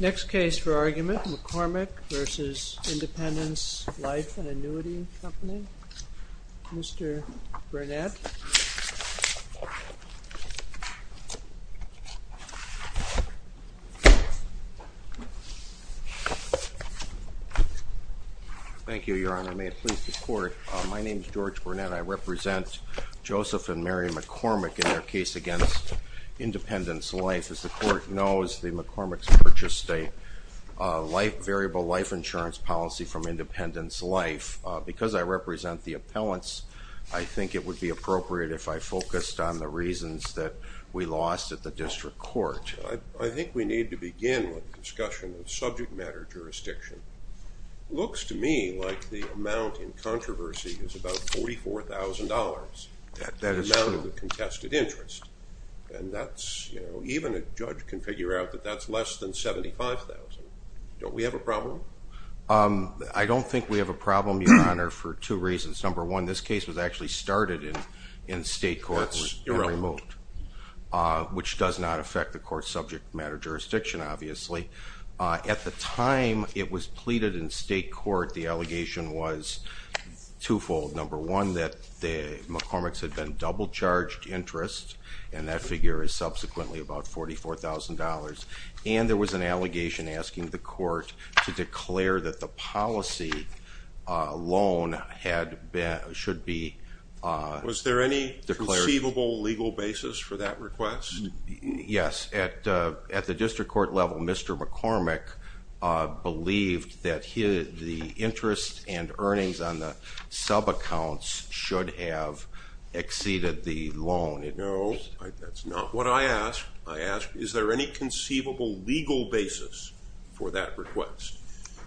Next case for argument, McCormick v. Independence Life and Annuity and Company, Mr. Burnett. Thank you, Your Honor. May it please the Court, my name is George Burnett. I represent Joseph and Mary McCormick in their case against Independence Life. As the Court knows, the McCormick's purchased a variable life insurance policy from Independence Life. Because I represent the appellants, I think it would be appropriate if I focused on the reasons that we lost at the district court. I think we need to begin with a discussion of subject matter jurisdiction. It looks to me like the amount in controversy is about $44,000, the amount of the contested interest. And that's, you know, even a judge can figure out that that's less than $75,000. Don't we have a problem? I don't think we have a problem, Your Honor, for two reasons. Number one, this case was actually started in state courts and removed. Which does not affect the court's subject matter jurisdiction, obviously. At the time it was pleaded in state court, the allegation was twofold. Number one, that the McCormick's had been double-charged interest, and that figure is subsequently about $44,000. And there was an allegation asking the court to declare that the policy loan should be... Was there any conceivable legal basis for that request? Yes. At the district court level, Mr. McCormick believed that the interest and earnings on the subaccounts should have exceeded the loan. No, that's not what I asked. I asked, is there any conceivable legal basis for that request?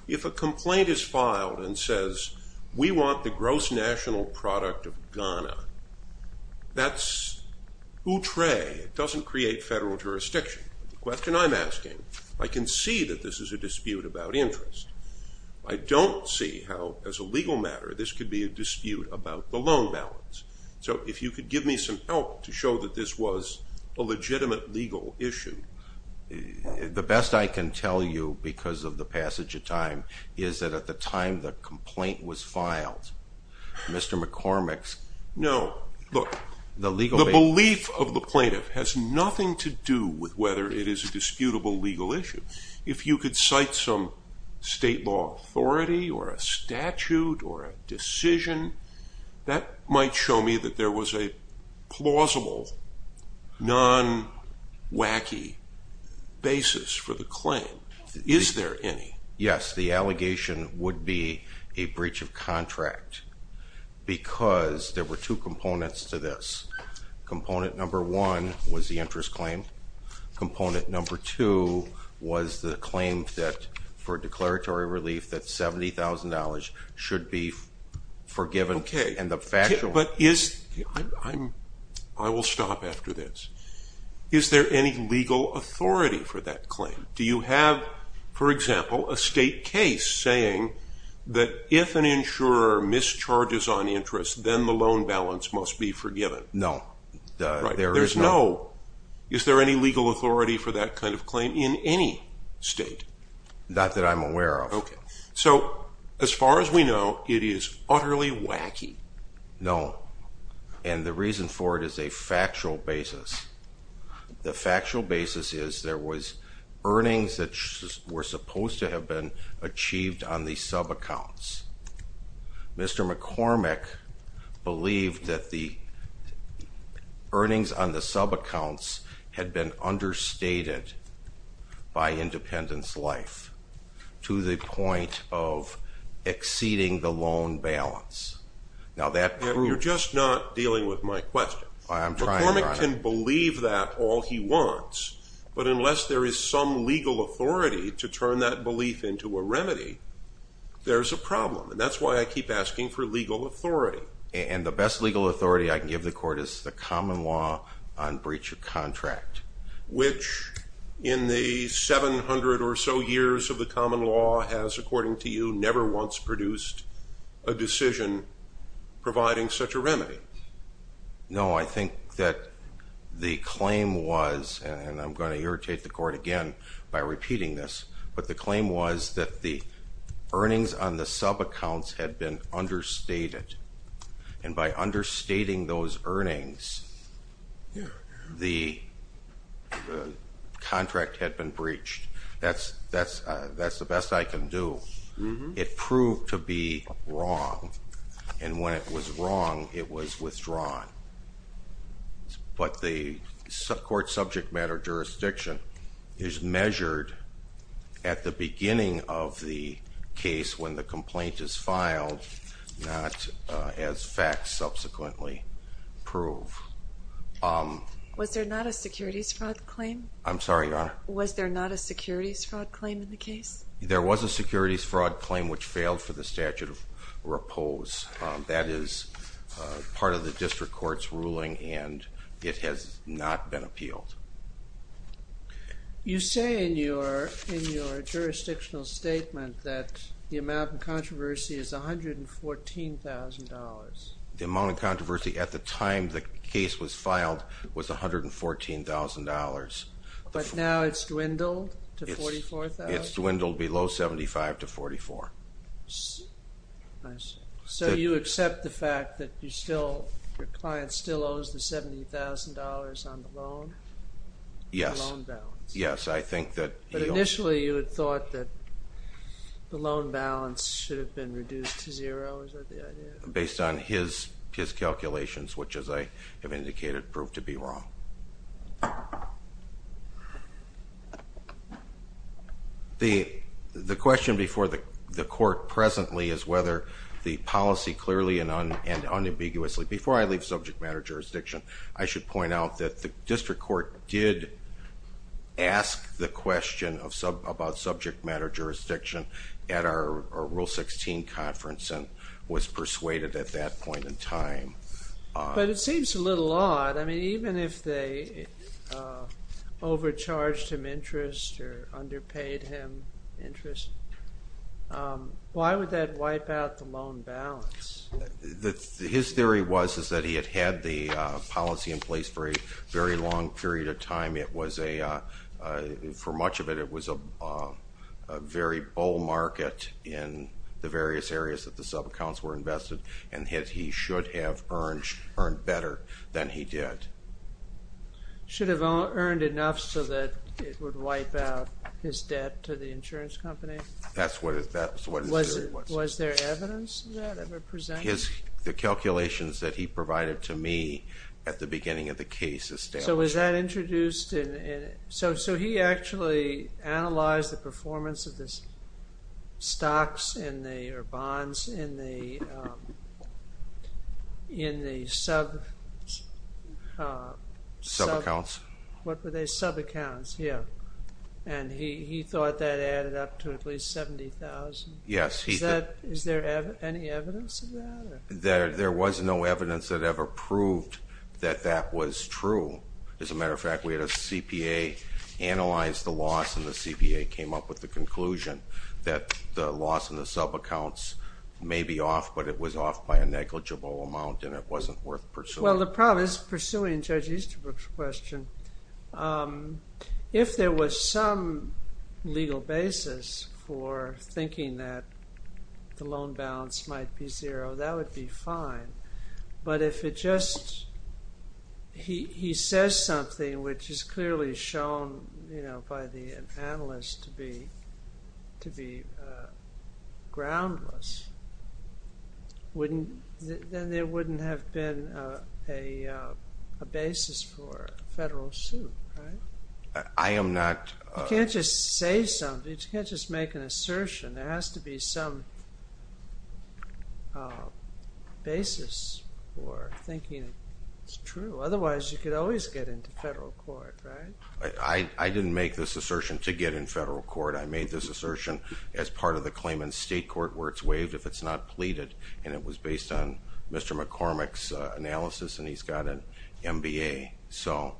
If a complaint is filed and says, we want the gross national product of Ghana, that's outré. It doesn't create federal jurisdiction. The question I'm asking, I can see that this is a dispute about interest. I don't see how, as a legal matter, this could be a dispute about the loan balance. So if you could give me some help to show that this was a legitimate legal issue. The best I can tell you, because of the passage of time, is that at the time the complaint was filed, Mr. McCormick's... No, look, the belief of the plaintiff has nothing to do with whether it is a disputable legal issue. If you could cite some state law authority or a statute or a decision, that might show me that there was a plausible, non-wacky basis for the claim. Is there any? Yes, the allegation would be a breach of contract because there were two components to this. Component number one was the interest claim. Component number two was the claim for declaratory relief that $70,000 should be forgiven. Okay, but is... I will stop after this. Is there any legal authority for that claim? Do you have, for example, a state case saying that if an insurer mischarges on interest, then the loan balance must be forgiven? No, there is no... Is there any legal authority for that kind of claim in any state? Not that I'm aware of. So, as far as we know, it is utterly wacky. No, and the reason for it is a factual basis. The factual basis is there was earnings that were supposed to have been achieved on the sub-accounts. Mr. McCormick believed that the earnings on the sub-accounts had been understated by Independence Life to the point of exceeding the loan balance. Now, that proves... You're just not dealing with my question. McCormick can believe that all he wants, but unless there is some legal authority to turn that belief into a remedy, there's a problem. And that's why I keep asking for legal authority. And the best legal authority I can give the court is the common law on breach of contract. Which, in the 700 or so years of the common law, has, according to you, never once produced a decision providing such a remedy. No, I think that the claim was, and I'm going to irritate the court again by repeating this, but the claim was that the earnings on the sub-accounts had been understated. And by understating those earnings, the contract had been breached. That's the best I can do. It proved to be wrong. And when it was wrong, it was withdrawn. But the court subject matter jurisdiction is measured at the beginning of the case when the complaint is filed, not as facts subsequently prove. Was there not a securities fraud claim? I'm sorry, Your Honor? Was there not a securities fraud claim in the case? There was a securities fraud claim which failed for the statute of repose. That is part of the district court's ruling, and it has not been appealed. You say in your jurisdictional statement that the amount of controversy is $114,000. The amount of controversy at the time the case was filed was $114,000. But now it's dwindled to $44,000? It's dwindled below $75,000 to $44,000. I see. So you accept the fact that your client still owes the $70,000 on the loan? Yes. The loan balance. Yes, I think that he owes. But initially you had thought that the loan balance should have been reduced to zero. Is that the idea? Based on his calculations, which, as I have indicated, proved to be wrong. The question before the court presently is whether the policy clearly and unambiguously, before I leave subject matter jurisdiction, I should point out that the district court did ask the question about subject matter jurisdiction at our Rule 16 conference and was persuaded at that point in time. But it seems a little odd. I mean, even if they overcharged him interest or underpaid him interest, why would that wipe out the loan balance? His theory was that he had had the policy in place for a very long period of time. For much of it, it was a very bull market in the various areas that the sub-accounts were invested and that he should have earned better than he did. Should have earned enough so that it would wipe out his debt to the insurance company? That's what his theory was. Was there evidence of that ever presented? The calculations that he provided to me at the beginning of the case established that. So he actually analyzed the performance of the stocks or bonds in the sub-accounts, and he thought that added up to at least $70,000. Is there any evidence of that? There was no evidence that ever proved that that was true. As a matter of fact, we had a CPA analyze the loss, and the CPA came up with the conclusion that the loss in the sub-accounts may be off, but it was off by a negligible amount and it wasn't worth pursuing. Well, the problem is pursuing Judge Easterbrook's question. If there was some legal basis for thinking that the loan balance might be zero, that would be fine. But if he says something which is clearly shown by the analyst to be groundless, then there wouldn't have been a basis for a federal suit, right? I am not... You can't just say something. You can't just make an assertion. There has to be some basis for thinking it's true. Otherwise, you could always get into federal court, right? I didn't make this assertion to get in federal court. I made this assertion as part of the claim in state court where it's waived if it's not pleaded, and it was based on Mr. McCormick's analysis, and he's got an MBA. So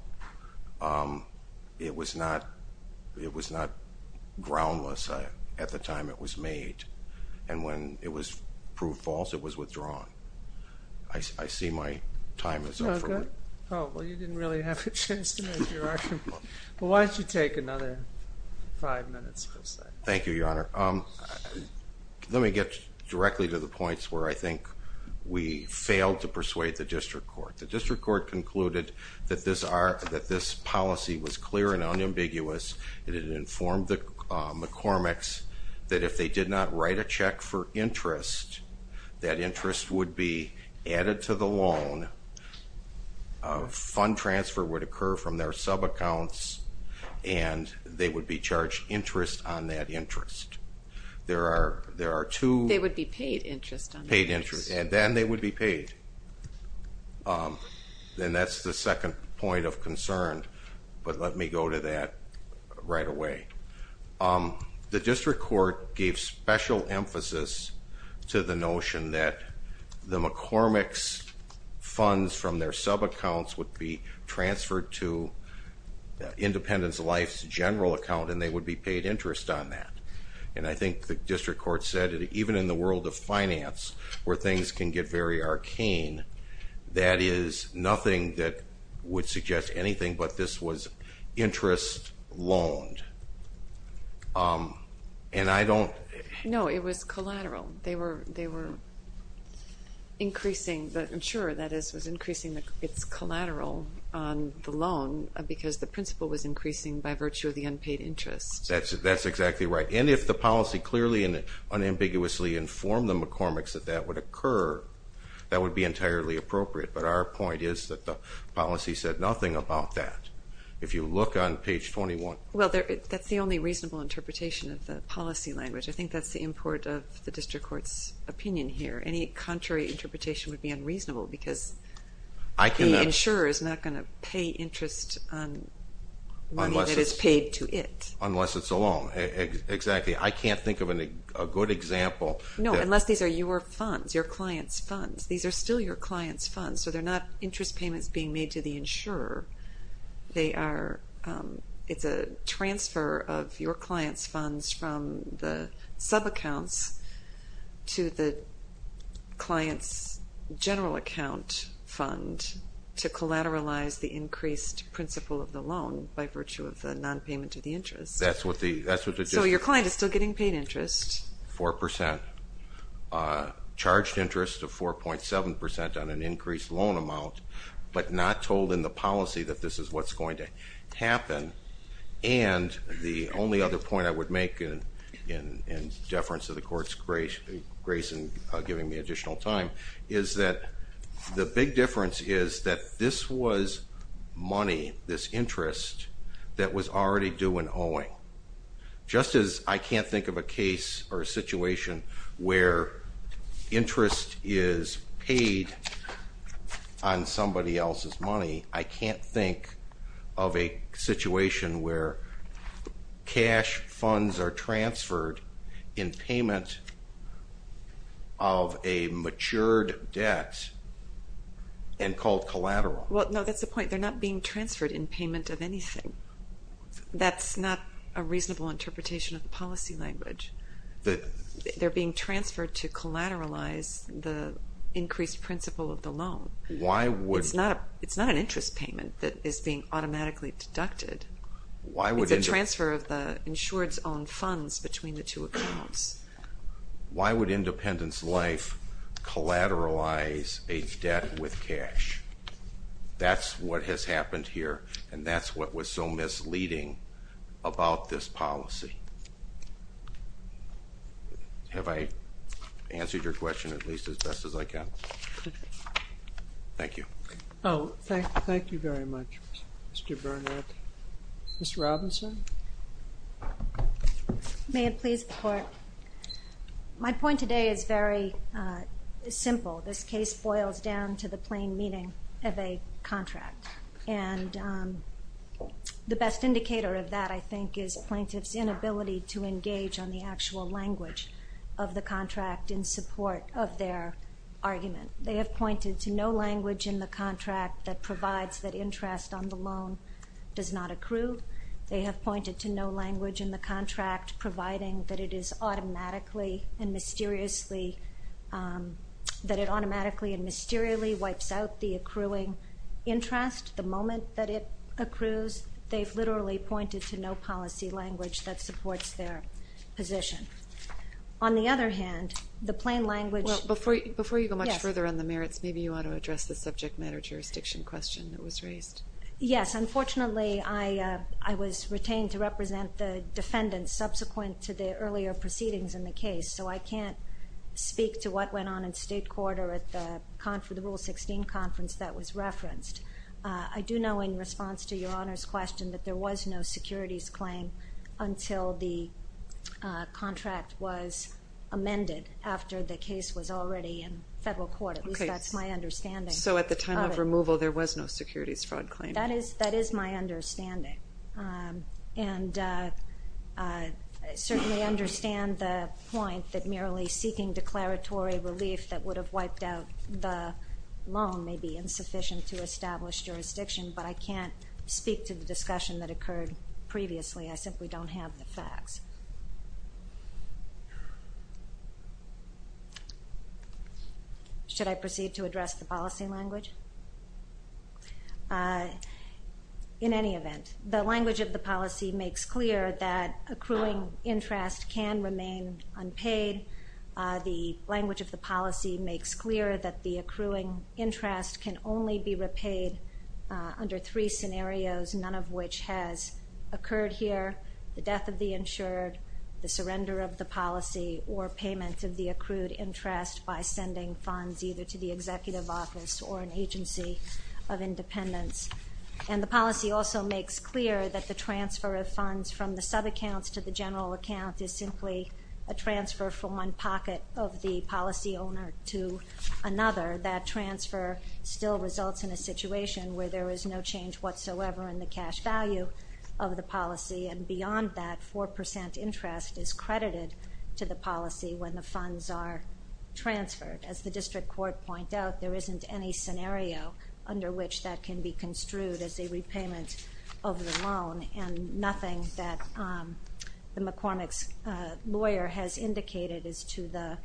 it was not groundless. At the time, it was made, and when it was proved false, it was withdrawn. I see my time is up. Well, you didn't really have a chance to make your argument. Why don't you take another five minutes or so? Thank you, Your Honor. Let me get directly to the points where I think we failed to persuade the district court. The district court concluded that this policy was clear and unambiguous. It had informed the McCormicks that if they did not write a check for interest, that interest would be added to the loan. Fund transfer would occur from their subaccounts, and they would be charged interest on that interest. There are two. They would be paid interest. Paid interest, and then they would be paid. Then that's the second point of concern, but let me go to that right away. The district court gave special emphasis to the notion that the McCormicks' funds from their subaccounts would be transferred to Independence Life's general account, and they would be paid interest on that. And I think the district court said that even in the world of finance, where things can get very arcane, that is nothing that would suggest anything but this was interest loaned. No, it was collateral. They were increasing the insurer, that is, was increasing its collateral on the loan because the principal was increasing by virtue of the unpaid interest. That's exactly right. And if the policy clearly and unambiguously informed the McCormicks that that would occur, that would be entirely appropriate. But our point is that the policy said nothing about that. If you look on page 21. Well, that's the only reasonable interpretation of the policy language. I think that's the import of the district court's opinion here. Any contrary interpretation would be unreasonable because the insurer is not going to pay interest on money that is paid to it. Unless it's a loan. Exactly. I can't think of a good example. No, unless these are your funds, your client's funds. These are still your client's funds, so they're not interest payments being made to the insurer. It's a transfer of your client's funds from the subaccounts to the client's general account fund to collateralize the increased principal of the loan by virtue of the nonpayment of the interest. So your client is still getting paid interest. Four percent. Charged interest of 4.7 percent on an increased loan amount, but not told in the policy that this is what's going to happen. And the only other point I would make in deference to the court's grace in giving me additional time is that the big difference is that this was money, this interest, that was already due in owing. Just as I can't think of a case or a situation where interest is paid on somebody else's money, I can't think of a situation where cash funds are transferred in payment of a matured debt and called collateral. Well, no, that's the point. They're not being transferred in payment of anything. That's not a reasonable interpretation of policy language. They're being transferred to collateralize the increased principal of the loan. It's not an interest payment that is being automatically deducted. It's a transfer of the insured's own funds between the two accounts. Why would Independence Life collateralize a debt with cash? That's what has happened here, and that's what was so misleading about this policy. Have I answered your question at least as best as I can? Thank you. Oh, thank you very much, Mr. Bernhardt. Ms. Robinson? May it please the Court? My point today is very simple. This case boils down to the plain meaning of a contract. And the best indicator of that, I think, is plaintiff's inability to engage on the actual language of the contract in support of their argument. They have pointed to no language in the contract that provides that interest on the loan does not accrue. They have pointed to no language in the contract providing that it automatically and mysteriously wipes out the accruing interest the moment that it accrues. They've literally pointed to no policy language that supports their position. On the other hand, the plain language – Before you go much further on the merits, maybe you ought to address the subject matter jurisdiction question that was raised. Yes. Unfortunately, I was retained to represent the defendants subsequent to the earlier proceedings in the case, so I can't speak to what went on in state court or at the Rule 16 conference that was referenced. I do know in response to Your Honor's question that there was no securities claim until the contract was amended after the case was already in federal court. At least that's my understanding. So at the time of removal, there was no securities fraud claim. That is my understanding, and I certainly understand the point that merely seeking declaratory relief that would have wiped out the loan may be insufficient to establish jurisdiction, but I can't speak to the discussion that occurred previously. Yes. Should I proceed to address the policy language? In any event, the language of the policy makes clear that accruing interest can remain unpaid. The language of the policy makes clear that the accruing interest can only be repaid under three scenarios, none of which has occurred here, the death of the insured, the surrender of the policy, or payment of the accrued interest by sending funds either to the executive office or an agency of independence. And the policy also makes clear that the transfer of funds from the subaccounts to the general account is simply a transfer from one pocket of the policy owner to another. That transfer still results in a situation where there is no change whatsoever in the cash value of the policy, and beyond that, 4% interest is credited to the policy when the funds are transferred. As the district court pointed out, there isn't any scenario under which that can be construed as a repayment of the loan, and nothing that the McCormick's lawyer has indicated is to the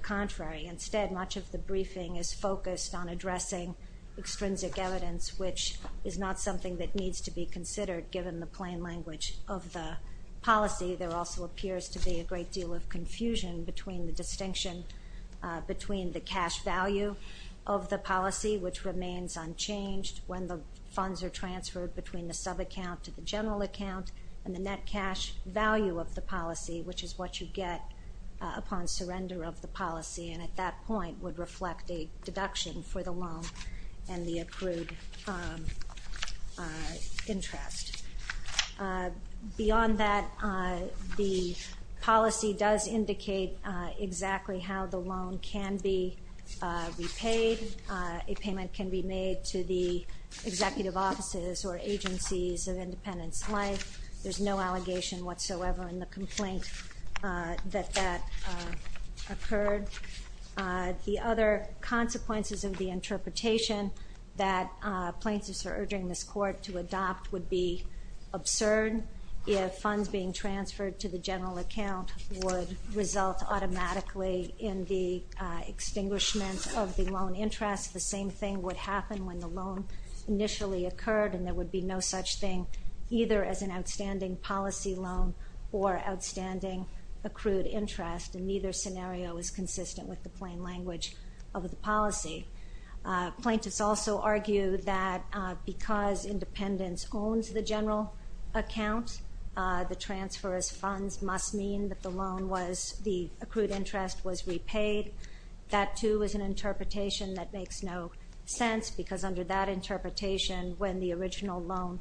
contrary. Instead, much of the briefing is focused on addressing extrinsic evidence, which is not something that needs to be considered given the plain language of the policy. There also appears to be a great deal of confusion between the distinction between the cash value of the policy, which remains unchanged when the funds are transferred between the subaccount to the general account, and the net cash value of the policy, which is what you get upon surrender of the policy. And at that point would reflect a deduction for the loan and the approved interest. Beyond that, the policy does indicate exactly how the loan can be repaid. A payment can be made to the executive offices or agencies of Independence Life. There's no allegation whatsoever in the complaint that that occurred. The other consequences of the interpretation that plaintiffs are urging this court to adopt would be absurd. If funds being transferred to the general account would result automatically in the extinguishment of the loan interest, the same thing would happen when the loan initially occurred, and there would be no such thing either as an outstanding policy loan or outstanding accrued interest, and neither scenario is consistent with the plain language of the policy. Plaintiffs also argue that because Independence owns the general account, the transfer as funds must mean that the accrued interest was repaid. That, too, is an interpretation that makes no sense because under that interpretation, when the original loan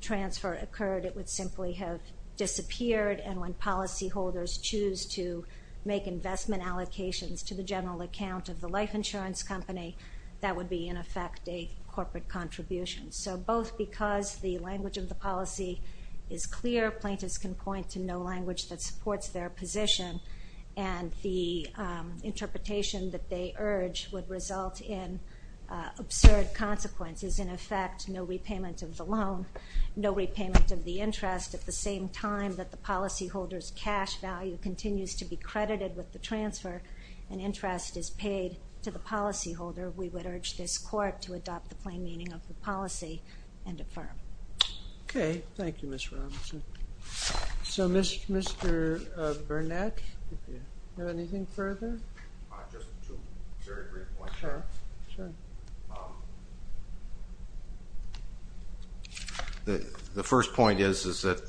transfer occurred, it would simply have disappeared, and when policyholders choose to make investment allocations to the general account of the life insurance company, that would be, in effect, a corporate contribution. So both because the language of the policy is clear, plaintiffs can point to no language that supports their position, and the interpretation that they urge would result in absurd consequences. In effect, no repayment of the loan, no repayment of the interest. At the same time that the policyholder's cash value continues to be credited with the transfer and interest is paid to the policyholder, we would urge this court to adopt the plain meaning of the policy and affirm. Okay. Thank you, Ms. Robinson. So, Mr. Burnett, do you have anything further? Just two very brief points. Sure. The first point is that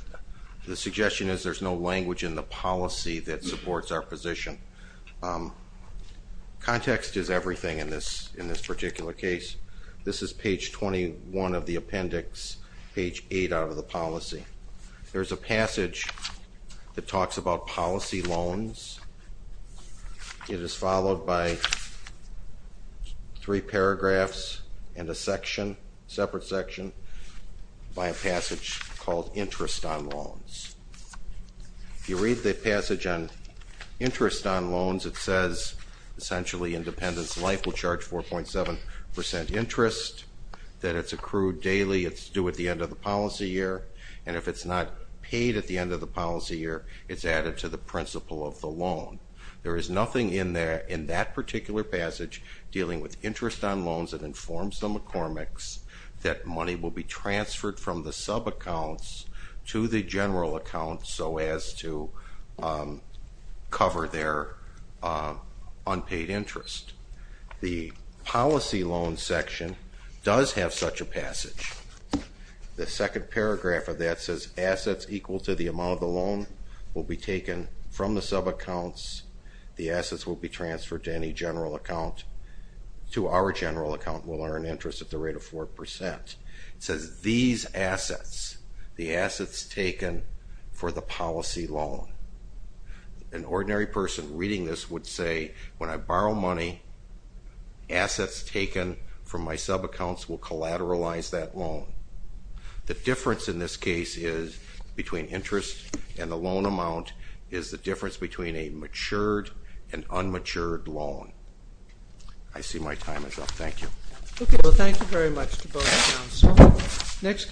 the suggestion is there's no language in the policy that supports our position. Context is everything in this particular case. This is page 21 of the appendix, page 8 out of the policy. There's a passage that talks about policy loans. It is followed by three paragraphs and a section, separate section, by a passage called interest on loans. If you read the passage on interest on loans, it says, essentially, independence of life will charge 4.7% interest, that it's accrued daily, it's due at the end of the policy year, and if it's not paid at the end of the policy year, it's added to the principle of the loan. There is nothing in that particular passage dealing with interest on loans that informs the McCormicks that money will be transferred from the subaccounts to the general account so as to cover their unpaid interest. The policy loan section does have such a passage. The second paragraph of that says assets equal to the amount of the loan will be taken from the subaccounts. The assets will be transferred to any general account. To our general account, we'll earn interest at the rate of 4%. It says these assets, the assets taken for the policy loan. An ordinary person reading this would say, when I borrow money, assets taken from my subaccounts will collateralize that loan. The difference in this case is between interest and the loan amount is the difference between a matured and unmatured loan. I see my time is up. Thank you. Okay. Well, thank you very much to both counsels.